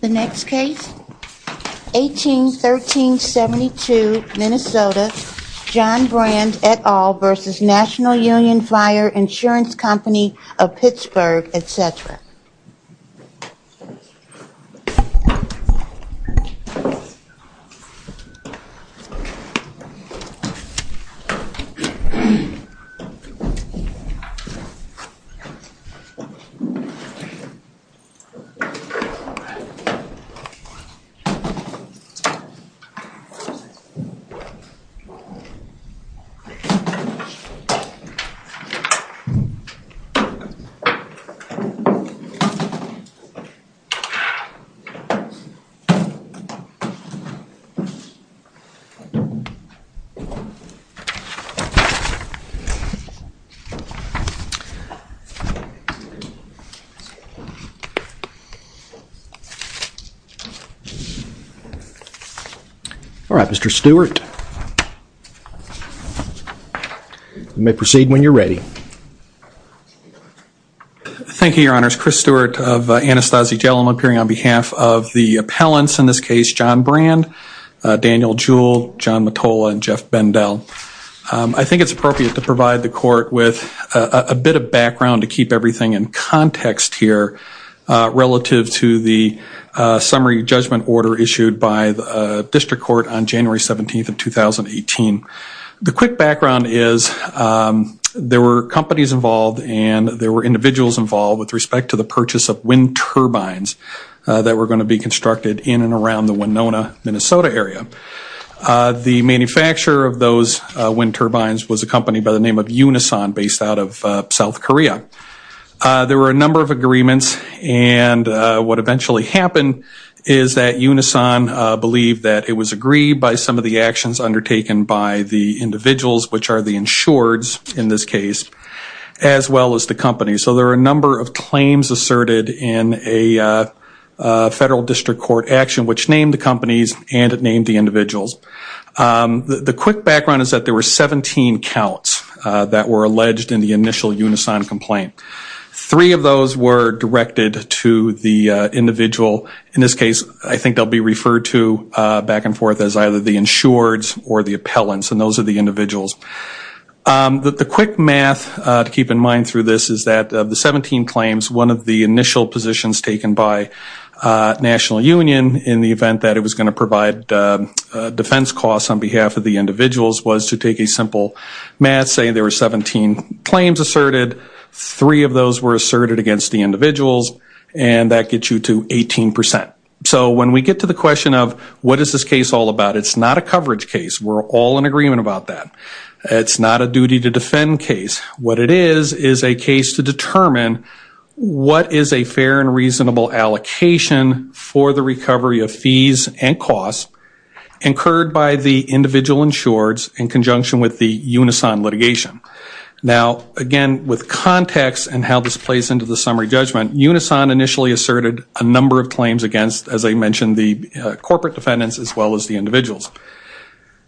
The next case, 18-13-72 Minnesota, John Brand et al. v. National Union Fire Insurance Company of Pittsburgh, etc. All right, Mr. Stewart. You may proceed when you're ready. Thank you, Your Honors. Chris Stewart of Anastasi Jail. I'm appearing on behalf of the appellants in this case, John Brand, Daniel Jewell, John Mottola, and Jeff Bendell. I think it's appropriate to provide the court with a bit of background to keep everything in context here relative to the summary judgment order issued by the district court on January 17, 2018. The quick background is there were companies involved and there were individuals involved with respect to the purchase of wind turbines that were going to be constructed in and around the Winona, Minnesota area. The manufacturer of those wind turbines was a company by the name of Unison based out of South Korea. There were a number of agreements and what eventually happened is that Unison believed that it was agreed by some of the actions undertaken by the individuals, which are the insureds in this case, as well as the company. So there are a number of claims asserted in a federal district court action which named the companies and it named the individuals. The quick background is that there were 17 counts that were alleged in the initial Unison complaint. Three of those were directed to the individual. In this case, I think they'll be referred to back and forth as either the insureds or the appellants and those are the individuals. The quick math to keep in mind through this is that of the 17 claims, one of the initial positions taken by National Union in the event that it was going to provide defense costs on behalf of the individuals was to take a simple math, say there were 17 claims asserted, three of those were asserted against the individuals and that gets you to 18%. So when we get to the question of what is this case all about, it's not a coverage case. We're all in agreement about that. It's not a duty to defend case. What it is is a case to determine what is a fair and reasonable allocation for the recovery of fees and costs incurred by the individual insureds in conjunction with the Unison litigation. Now again, with context and how this plays into the summary judgment, Unison initially asserted a number of claims against, as I mentioned, the corporate defendants as well as the individuals.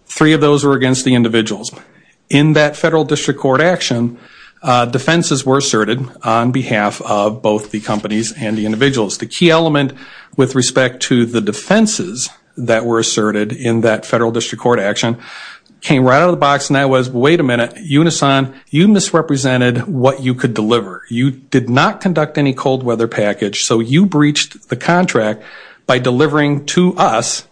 Three of those were against the individuals. In that federal district court action, defenses were asserted on behalf of both the companies and the individuals. The key element with respect to the defenses that were asserted in that federal district court action came right out of the box and that was, wait a minute, Unison, you misrepresented what you could deliver. You did not conduct any cold weather package, so you breached the contract by delivering to us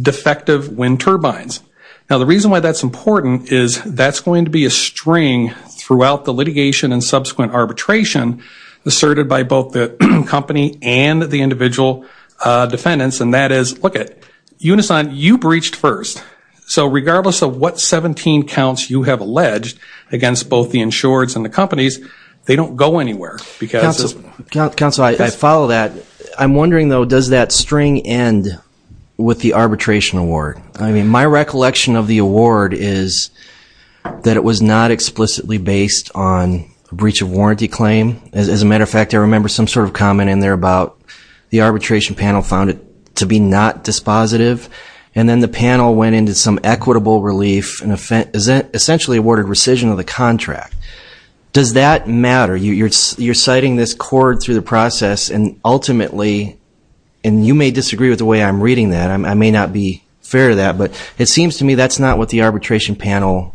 defective wind turbines. Now the reason why that's important is that's going to be a string throughout the litigation and subsequent arbitration asserted by both the company and the individual defendants, and that is, look it, Unison, you breached first. So regardless of what 17 counts you have alleged against both the insureds and the companies, they don't go anywhere because... Counselor, I follow that. I'm wondering though, does that string end with the arbitration award? I mean, my recollection of the award is that it was not explicitly based on breach of warranty claim. As a matter of fact, I remember some sort of comment in there about the arbitration panel found it to be not dispositive, and then the panel went into some equitable relief and essentially awarded rescission of the contract. Does that matter? You're citing this chord through the process and ultimately, and you may disagree with the way I'm reading that. I may not be fair to that, but it seems to me that's not what the arbitration panel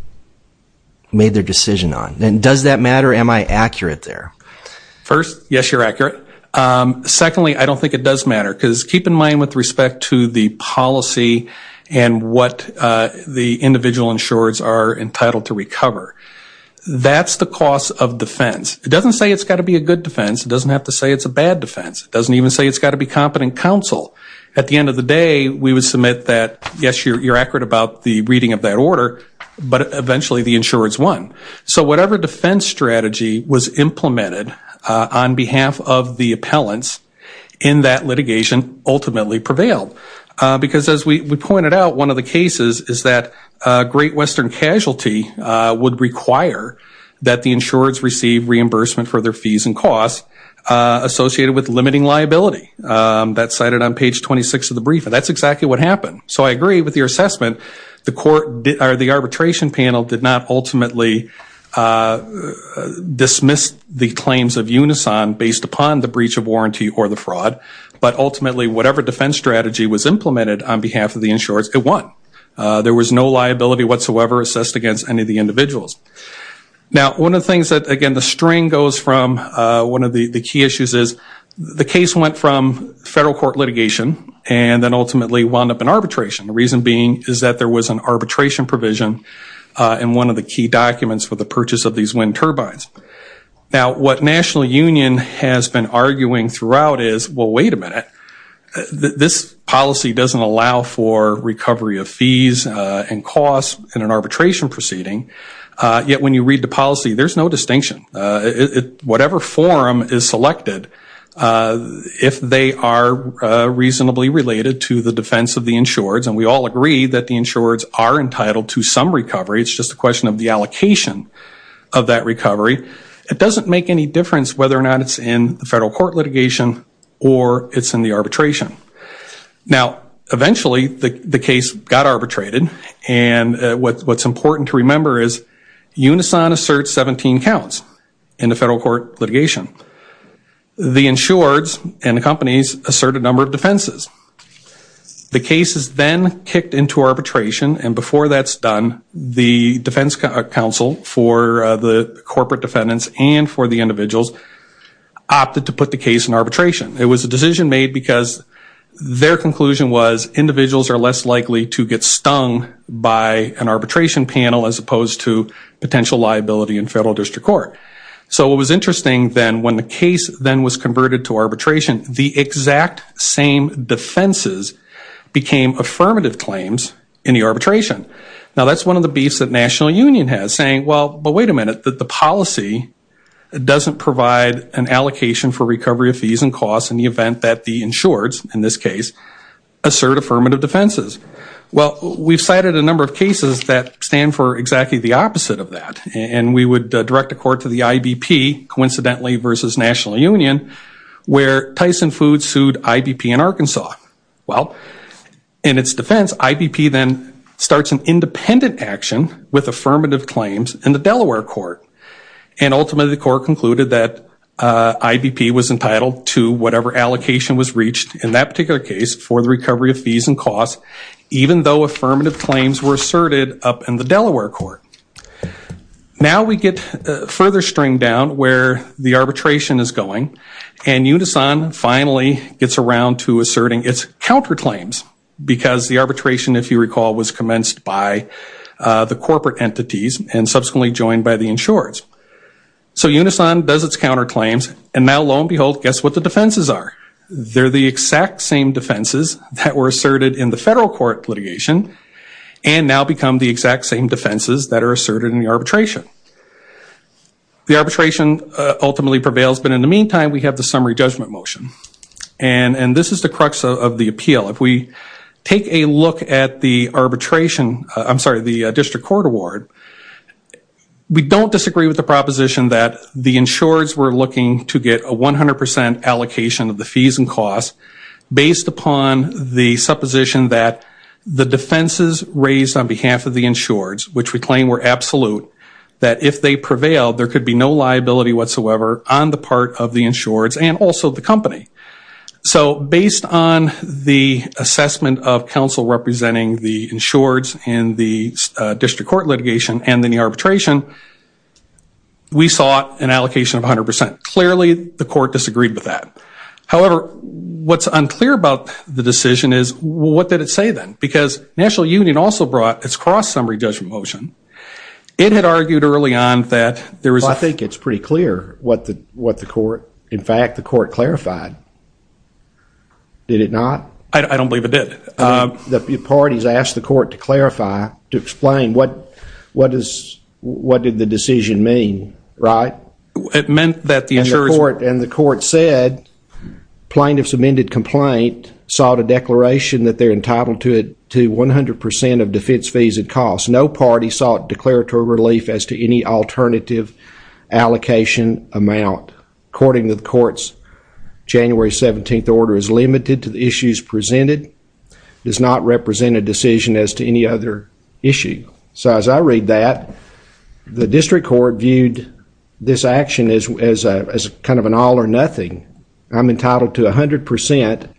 made their decision on. Does that matter? Am I accurate there? First, yes, you're accurate. Secondly, I don't think it does matter because keep in mind with respect to the policy and what the individual insureds are entitled to recover. That's the cost of defense. It doesn't say it's got to be a good defense. It doesn't have to say it's a bad defense. It doesn't even say it's got to be competent counsel. At the end of that, yes, you're accurate about the reading of that order, but eventually the insureds won. So whatever defense strategy was implemented on behalf of the appellants in that litigation ultimately prevailed because as we pointed out, one of the cases is that Great Western casualty would require that the insureds receive reimbursement for their fees and costs associated with limiting liability. That's cited on page 26 of the brief, and that's exactly what happened. So I agree with your assessment. The arbitration panel did not ultimately dismiss the claims of Unison based upon the breach of warranty or the fraud, but ultimately whatever defense strategy was implemented on behalf of the insureds, it won. There was no liability whatsoever assessed against any of the individuals. Now one of the things that again the string goes from one of the key issues is the case went from federal court litigation and then ultimately wound up in arbitration. The reason being is that there was an arbitration provision in one of the key documents for the purchase of these wind turbines. Now what National Union has been arguing throughout is, well, wait a minute. This policy doesn't allow for recovery of fees and costs in an arbitration proceeding. Yet when you read the policy, there's no distinction. Whatever forum is selected, if they are reasonably related to the defense of the insureds, and we all agree that the insureds are entitled to some recovery, it's just a question of the allocation of that recovery, it doesn't make any difference whether or not it's in the federal court litigation or it's in the arbitration. Now eventually the case got arbitrated and what's important to remember is Unison asserts 17 counts in the federal court litigation. The insureds and the companies assert a number of defenses. The case is then kicked into arbitration and before that's done, the defense counsel for the corporate defendants and for the individuals opted to put the case in arbitration. It was a decision made because their conclusion was individuals are less likely to get stung by an arbitration panel as opposed to potential liability in federal district court. So it was interesting then when the case then was converted to arbitration, the exact same defenses became affirmative claims in the arbitration. Now that's one of the beefs that National Union has, saying, well, but wait a minute, the policy doesn't provide an allocation for the event that the insureds, in this case, assert affirmative defenses. Well, we've cited a number of cases that stand for exactly the opposite of that and we would direct a court to the IBP, coincidentally versus National Union, where Tyson Foods sued IBP in Arkansas. Well, in its defense, IBP then starts an independent action with affirmative claims in the Delaware court and ultimately the court concluded that IBP was entitled to whatever allocation was reached in that particular case for the recovery of fees and costs, even though affirmative claims were asserted up in the Delaware court. Now we get further string down where the arbitration is going and Unison finally gets around to asserting its counterclaims because the arbitration, if you recall, was commenced by the corporate entities and subsequently joined by the insureds. So Unison does its counterclaims and now, lo and behold, guess what the defenses are? They're the exact same defenses that were asserted in the federal court litigation and now become the exact same defenses that are asserted in the arbitration. The arbitration ultimately prevails, but in the meantime, we have the summary judgment motion and this is the crux of the appeal. If we take a look at the district court award, we don't disagree with the proposition that the insureds were looking to get a 100% allocation of the fees and costs based upon the supposition that the defenses raised on behalf of the insureds, which we claim were absolute, that if they prevailed, there could be no liability whatsoever on the part of the insureds and also the company. So based on the assessment of counsel representing the insureds and the district court litigation and then the arbitration, we saw an allocation of 100%. Clearly, the court disagreed with that. However, what's unclear about the decision is what did it say then? Because National Union also brought its cross summary judgment motion. It had argued early on that there was a... Well, I think it's pretty clear what the court, in fact, the court clarified. Did it not? I don't believe it did. The parties asked the court to clarify, to explain what did the decision mean, right? It meant that the insureds... And the court said plaintiff's amended complaint sought a declaration that they're entitled to 100% of defense fees and costs. No party sought declaratory relief as to any alternative allocation amount. According to the courts, January 17th order is limited to the issues presented, does not represent a decision as to any other issue. So as I read that, the district court viewed this action as kind of an all or nothing. I'm entitled to 100%,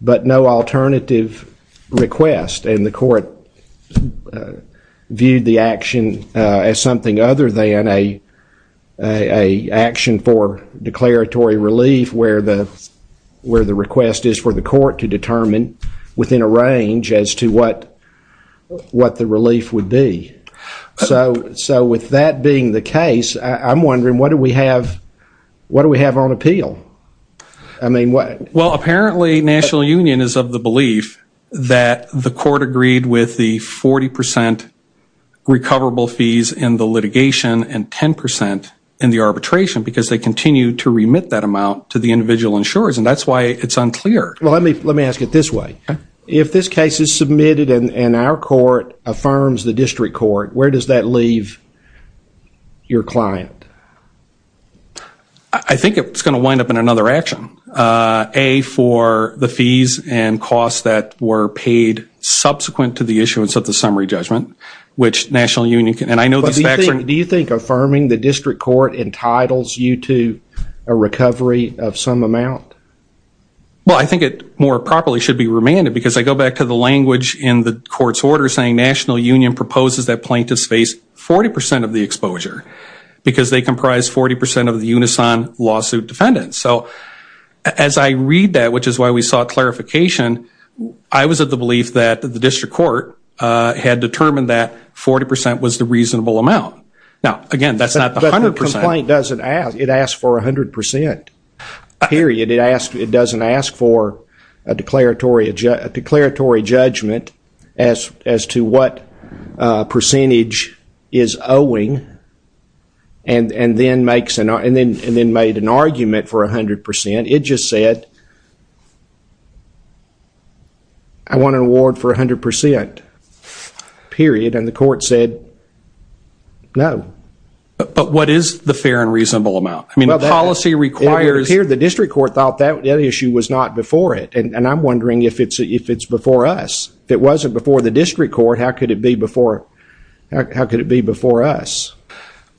but no alternative request and the court viewed the action as something other than a action for declaratory relief where the request is for the court to determine within a range as to what the relief would be. So with that being the case, I'm wondering what do we have on appeal? Well, apparently National Union is of the belief that the court agreed with the 40% recoverable fees in the litigation and 10% in the arbitration because they continue to remit that amount to the individual insurers and that's why it's unclear. Let me ask it this way. If this case is submitted and our court affirms the district court, where does that leave your client? I think it's going to wind up in another action. A, for the fees and costs that were paid subsequent to the issuance of the summary judgment, which National Union can, and I know this fact. Do you think affirming the district court entitles you to a recovery of some amount? Well, I think it more properly should be remanded because I go back to the language in the court's order saying National Union proposes that plaintiffs face 40% of the exposure because they comprise 40% of the Unison lawsuit defendants. So as I read that, which is why we sought clarification, I was of the belief that the district court had determined that 40% was the reasonable amount. Now, again, that's not the 100%. But the complaint doesn't ask. It asks for 100%, period. It doesn't ask for a declaratory judgment as to what percentage is owing and then made an argument for 100%. It just said, I want an award for 100%, period. And the court said, no. But what is the fair and reasonable amount? I mean, the policy requires- It would appear the district court thought that issue was not before it. And I'm wondering if it's before us. If it wasn't before the district court, how could it be before us?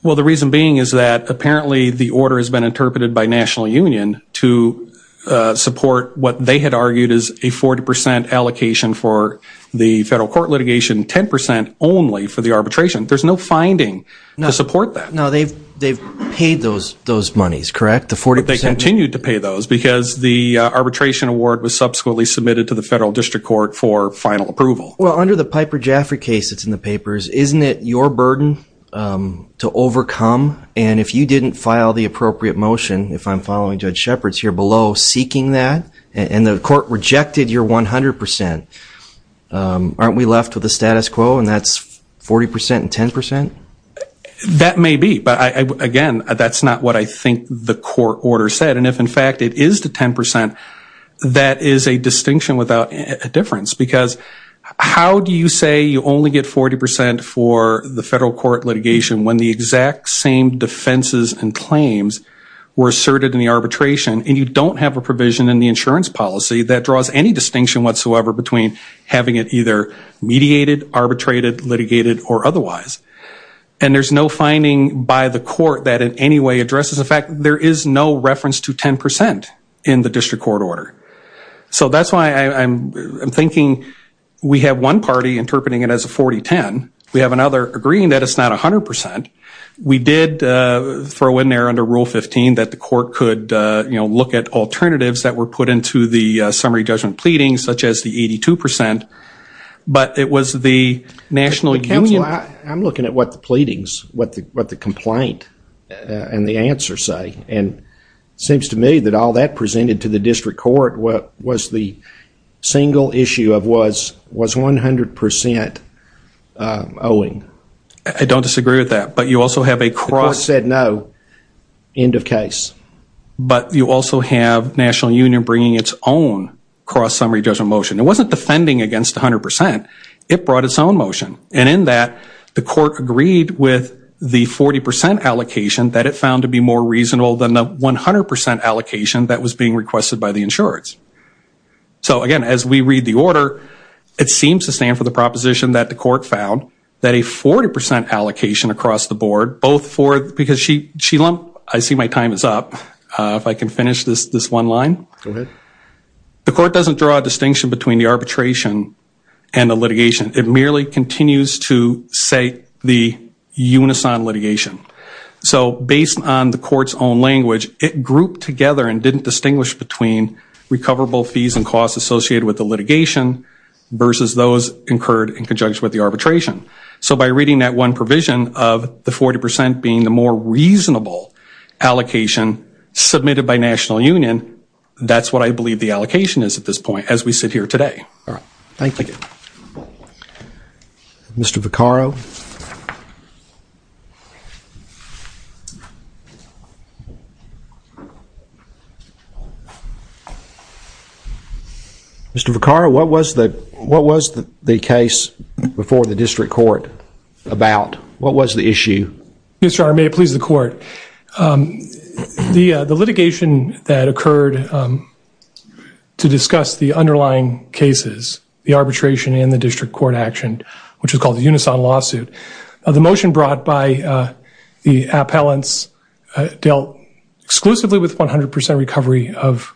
Well the reason being is that apparently the order has been interpreted by National Union to support what they had argued is a 40% allocation for the federal court litigation, 10% only for the arbitration. There's no finding to support that. No, they've paid those monies, correct? The 40%- Well, under the Piper Jaffray case that's in the papers, isn't it your burden to overcome? And if you didn't file the appropriate motion, if I'm following Judge Shepard's here below, seeking that, and the court rejected your 100%, aren't we left with a status quo and that's 40% and 10%? That may be, but again, that's not what I mean. If it is the 10%, that is a distinction without a difference. Because how do you say you only get 40% for the federal court litigation when the exact same defenses and claims were asserted in the arbitration and you don't have a provision in the insurance policy that draws any distinction whatsoever between having it either mediated, arbitrated, litigated, or otherwise? And there's no finding by the court that in any way addresses the fact there is no reference to 10% in the district court order. So that's why I'm thinking we have one party interpreting it as a 40-10. We have another agreeing that it's not 100%. We did throw in there under Rule 15 that the court could look at alternatives that were put into the summary judgment pleadings, such as the 82%, but it was the national union- I'm looking at what the pleadings, what the complaint, and the answer say. And it seems to me that all that presented to the district court was the single issue of was 100% owing. I don't disagree with that, but you also have a cross- The court said no, end of case. But you also have national union bringing its own cross-summary judgment motion. It wasn't defending against 100%. It brought its own 40% allocation that it found to be more reasonable than the 100% allocation that was being requested by the insurance. So again, as we read the order, it seems to stand for the proposition that the court found that a 40% allocation across the board, both for- because she lumped- I see my time is up. If I can finish this one line. Go ahead. The court doesn't draw a distinction between the arbitration and the litigation. It merely continues to say the unison litigation. So based on the court's own language, it grouped together and didn't distinguish between recoverable fees and costs associated with the litigation versus those incurred in conjunction with the arbitration. So by reading that one provision of the 40% being the more reasonable allocation submitted by national union, that's what I believe the allocation is at this point as we sit here today. Thank you. Mr. Vaccaro? Mr. Vaccaro, what was the case before the district court about? What was the issue? Mr. Honor, may it please the court. The litigation that occurred to discuss the underlying cases, the arbitration and the district court action, which is called the unison lawsuit. The motion brought by the appellants dealt exclusively with 100% recovery of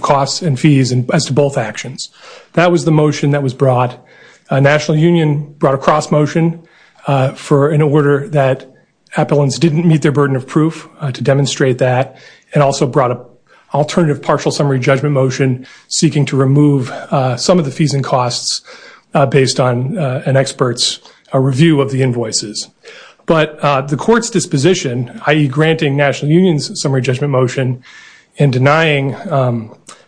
costs and fees as to both actions. That was the motion that was brought. National union brought a cross motion for an order that appellants didn't meet their proof to demonstrate that and also brought an alternative partial summary judgment motion seeking to remove some of the fees and costs based on an expert's review of the invoices. But the court's disposition, i.e. granting national union's summary judgment motion and denying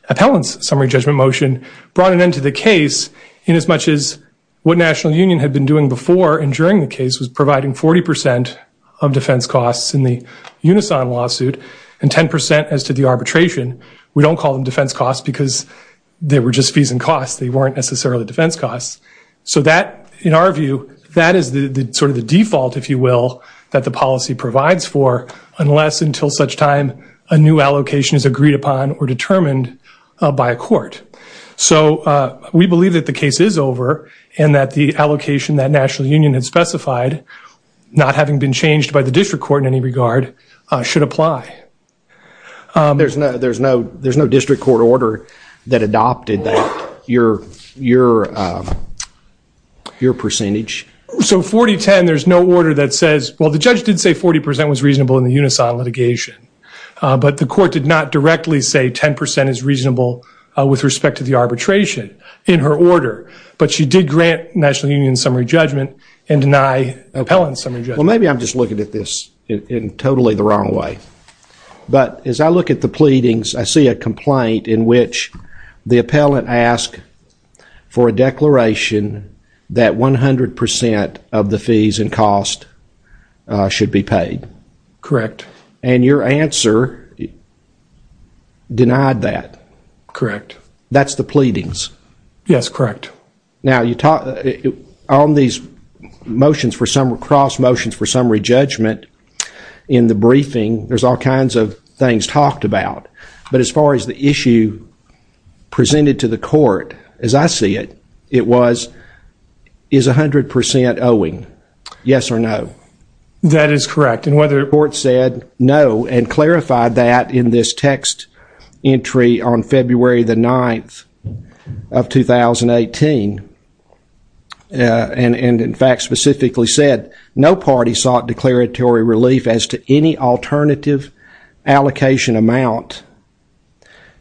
appellants' summary judgment motion brought an end to the case in as much as what national union had been doing before and during the case was providing 40% of defense costs in the unison lawsuit and 10% as to the arbitration. We don't call them defense costs because they were just fees and costs. They weren't necessarily defense costs. So that, in our view, that is sort of the default, if you will, that the policy provides for unless until such time a new allocation is agreed upon or determined by a court. So we believe that the case is over and that the allocation that national union had specified, not having been changed by the district court in any regard, should apply. There's no district court order that adopted that, your percentage? So 40-10, there's no order that says, well, the judge did say 40% was reasonable in the unison litigation, but the court did not directly say 10% is reasonable with respect to the arbitration in her order. But she did grant national union's summary judgment and deny appellants' summary judgment. Well, maybe I'm just looking at this in totally the wrong way. But as I look at the pleadings, I see a complaint in which the appellant asked for a declaration that 100% of the fees and costs should be paid. Correct. And your answer denied that. Correct. That's the pleadings. Yes, correct. Now, on these motions for summary, cross motions for summary judgment in the briefing, there's all kinds of things talked about. But as far as the issue presented to the court, as I see it, it was, is 100% owing? Yes or no? That is correct. And whether the court said no and clarified that in this text entry on February the 9th of 2018, and in fact specifically said no party sought declaratory relief as to any alternative allocation amount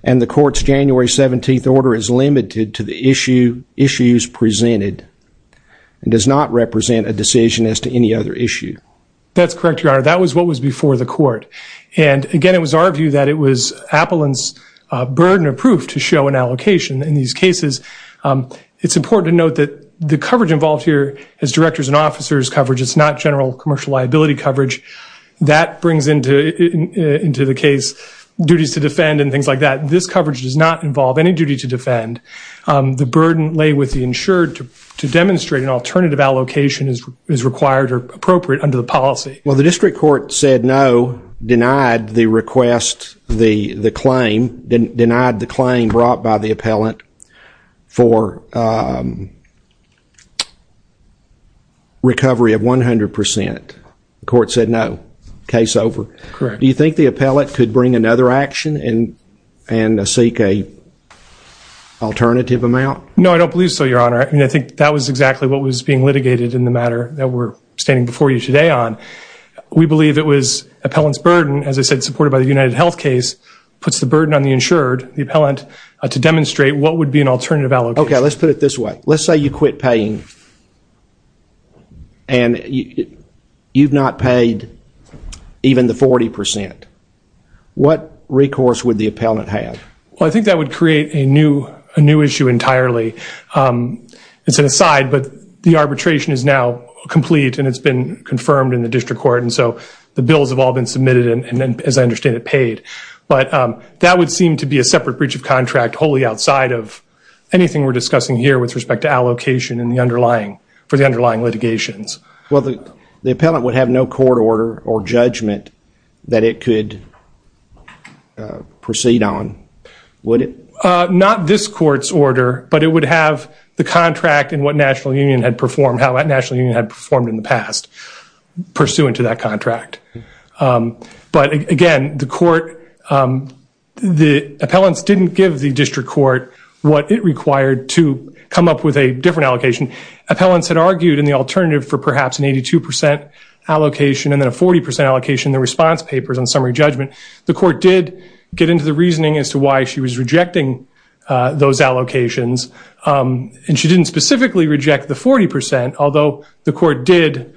and the court's January 17th order is limited to the issues presented and does not represent a decision as to any other issue. That's correct, your honor. That was what was before the court. And again, it was our proof to show an allocation in these cases. It's important to note that the coverage involved here is director's and officer's coverage. It's not general commercial liability coverage. That brings into the case duties to defend and things like that. This coverage does not involve any duty to defend. The burden lay with the insured to demonstrate an alternative allocation is required or appropriate under the policy. Well, the district court said no, denied the request, the claim, denied the claim brought by the appellant for recovery of 100%. The court said no. Case over. Correct. Do you think the appellant could bring another action and seek an alternative amount? No, I don't believe so, your honor. I think that was exactly what was being litigated in the matter that we're standing before you today on. We believe it was appellant's burden, as I said, supported by the UnitedHealth case, puts the burden on the insured, the appellant, to demonstrate what would be an alternative allocation. Okay, let's put it this way. Let's say you quit paying and you've not paid even the 40%. What recourse would the appellant have? Well, I think that would create a new issue entirely. It's an aside, but the arbitration is now complete and it's been confirmed in the district court and so the bills have all been submitted and as I understand it, paid. But that would seem to be a separate breach of contract wholly outside of anything we're discussing here with respect to allocation and the underlying, for the underlying litigations. Well, the appellant would have no court order or judgment that it could proceed on, would it? Not this court's order, but it would have the contract and what National Union had performed, how that National Union had performed in the past pursuant to that contract. But again, the court, the appellants didn't give the district court what it required to come up with a different allocation. Appellants had argued in the alternative for perhaps an 82% allocation and then a 40% allocation in the response papers on summary judgment. The court did get into the reasoning as to why she was rejecting those allocations and she didn't specifically reject the 40%, although the court did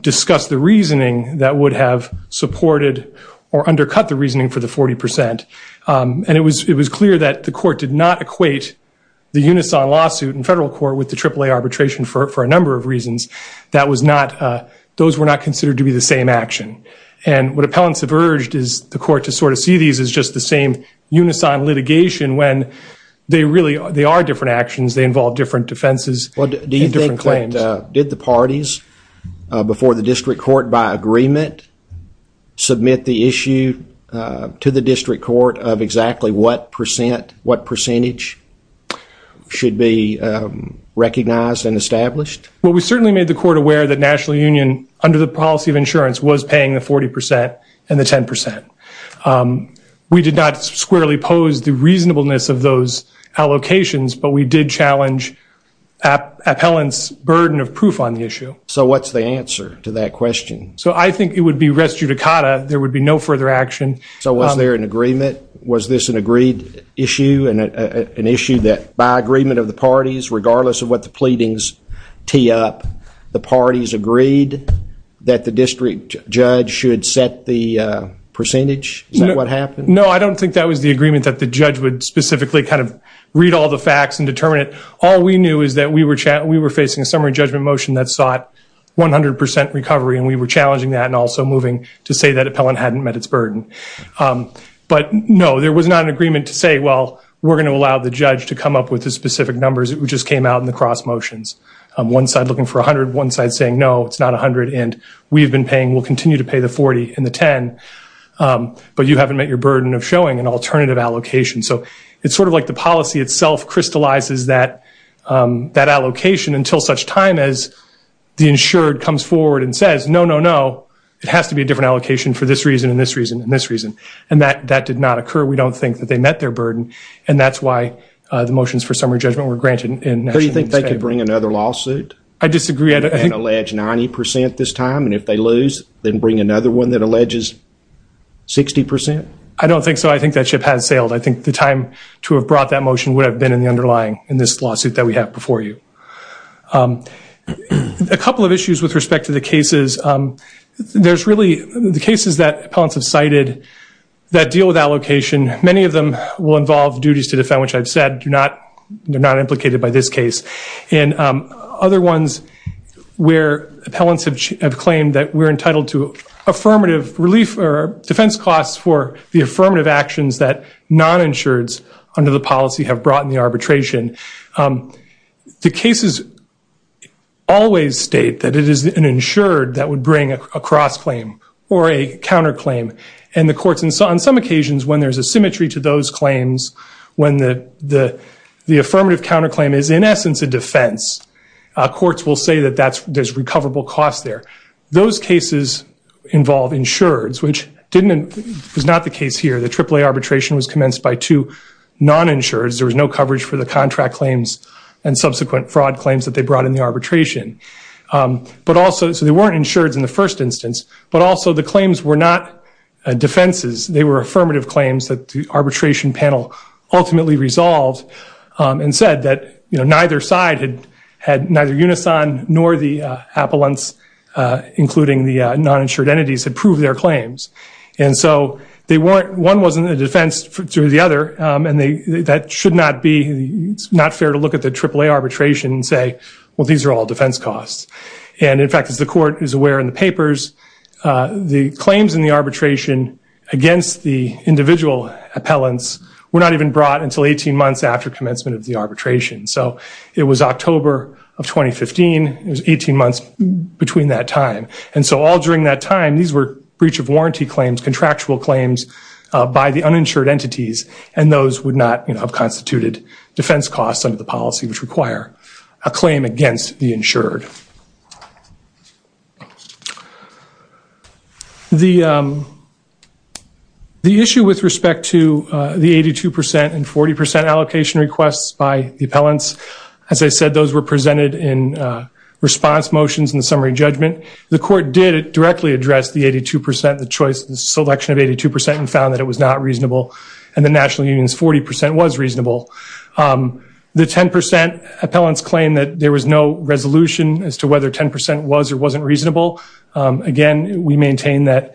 discuss the reasoning that would have supported or undercut the reasoning for the 40%. And it was clear that the court did not equate the unison lawsuit in federal court with the AAA arbitration for a number of reasons. That was not, those were not considered to be the same action. And what appellants have urged is the court to sort of see these as just the same unison litigation when they really, they are different actions. They involve different defenses and different claims. Do you think that, did the parties before the district court by agreement submit the issue to the district court of exactly what percent, what percentage should be recognized and established? Well, we certainly made the court aware that National Union under the policy of insurance was paying the 40% and the 10%. We did not squarely pose the reasonableness of those allocations, but we did challenge appellants burden of proof on the issue. So what's the answer to that question? So I think it would be res judicata. There would be no further action. So was there an agreement? Was this an agreed issue and an issue that by agreement of the parties, regardless of what the pleadings tee up, the parties agreed that the district judge should set the percentage? Is that what happened? No, I don't think that was the agreement that the judge would specifically kind of read all the facts and determine it. All we knew is that we were facing a summary judgment motion that sought 100% recovery and we were challenging that and also moving to say that appellant hadn't met its burden. But no, there was not an agreement to say, well, we're going to allow the judge to come up with the specific numbers that just came out in the cross motions. One side looking for 100, one side saying, no, it's not 100 and we've been paying, we'll continue to pay the 40 and the 10, but you haven't met your burden of showing an alternative allocation. So it's sort of like the policy itself crystallizes that allocation until such time as the insured comes forward and says, no, no, no, it has to be a different allocation for this reason and this reason and this reason. And that did not occur. We don't think that they met their burden. And that's why the motions for summary judgment were granted. Do you think they could bring another lawsuit? I disagree. And allege 90% this time and if they lose, then bring another one that alleges 60%? I don't think so. I think that ship has sailed. I think the time to have brought that motion would have been in the underlying in this lawsuit that we have before you. A couple of issues with respect to the cases. There's really the cases that appellants have cited that deal with allocation. Many of them will involve duties to defend, which I've said they're not implicated by this case. And other ones where appellants have claimed that we're defense costs for the affirmative actions that non-insureds under the policy have brought in the arbitration. The cases always state that it is an insured that would bring a cross-claim or a counterclaim. And the courts on some occasions when there's a symmetry to those claims, when the affirmative counterclaim is in essence a defense, courts will say that there's recoverable costs there. Those cases involve insureds, which was not the case here. The AAA arbitration was commenced by two non-insureds. There was no coverage for the contract claims and subsequent fraud claims that they brought in the arbitration. So they weren't insureds in the first instance, but also the claims were not defenses. They were affirmative claims that the arbitration panel ultimately resolved and said that, you know, neither side had had neither unison nor the appellants, including the non-insured entities, had proved their claims. And so they weren't, one wasn't a defense to the other. And they, that should not be, it's not fair to look at the AAA arbitration and say, well, these are all defense costs. And in fact, as the court is aware in the papers, the claims in the arbitration against the individual appellants were not even brought until 18 months after commencement of the arbitration. So it was October of 2015. It was 18 months between that time. And so all during that time, these were breach of warranty claims, contractual claims by the uninsured entities, and those would not have constituted defense costs under the policy, which require a claim against the insured. The issue with respect to the 82% and 40% allocation requests by the appellants, as I said, those were presented in response motions in the summary judgment. The court did directly address the 82%, the choice, the selection of 82% and found that it was not reasonable. And the national union's 40% was reasonable. The 10% appellants claim that there was no resolution as to whether 10% was or wasn't reasonable. Again, we maintain that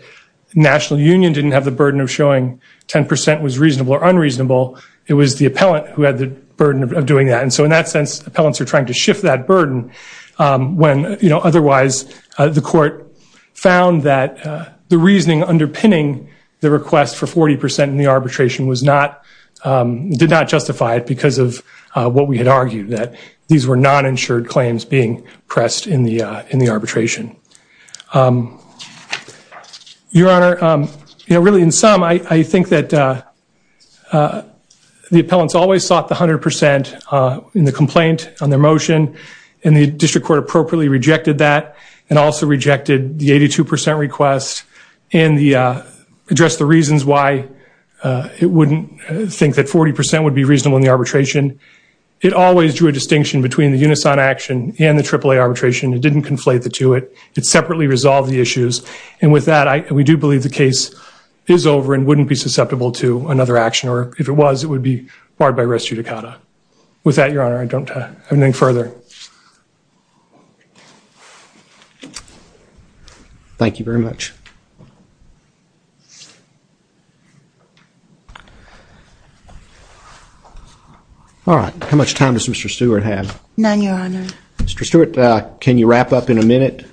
national union didn't have the burden of showing 10% was reasonable or unreasonable. It was the appellant who had the burden of doing that. And so in that sense, appellants are trying to shift that burden when, you know, otherwise the court found that the reasoning underpinning the request for 40% arbitration did not justify it because of what we had argued, that these were non-insured claims being pressed in the arbitration. Your Honor, you know, really in sum, I think that the appellants always sought the 100% in the complaint on their motion, and the district court appropriately rejected that, and also rejected the 82% request, and addressed the it wouldn't think that 40% would be reasonable in the arbitration. It always drew a distinction between the unison action and the AAA arbitration. It didn't conflate the two. It separately resolved the issues. And with that, we do believe the case is over and wouldn't be susceptible to another action, or if it was, it would be barred by res judicata. With that, Your Honor, I don't have anything further. Thank you very much. All right. How much time does Mr. Stewart have? None, Your Honor. Mr. Stewart, can you wrap up in a minute?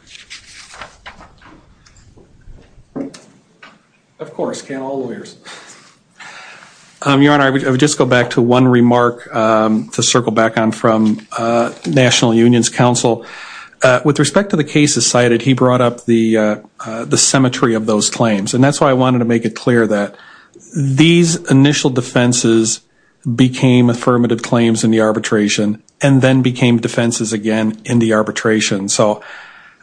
Of course, can all lawyers. Your Honor, I would just go back to one remark to circle back on from National Unions Council. With respect to the cases cited, he brought up the claims in the arbitration, and then became defenses again in the arbitration. So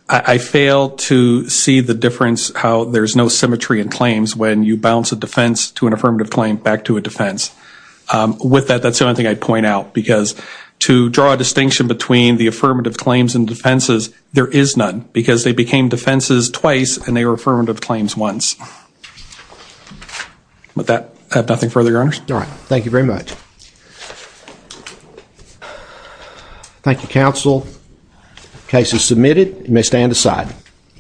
I fail to see the difference how there's no symmetry in claims when you bounce a defense to an affirmative claim back to a defense. With that, that's the only thing I'd point out, because to draw a distinction between the affirmative claims and defenses, there is none, because they became defenses twice and they were affirmative claims once. With that, I have nothing further, Your Honor. All right. Thank you very much. Thank you, counsel. Case is submitted. You may stand aside.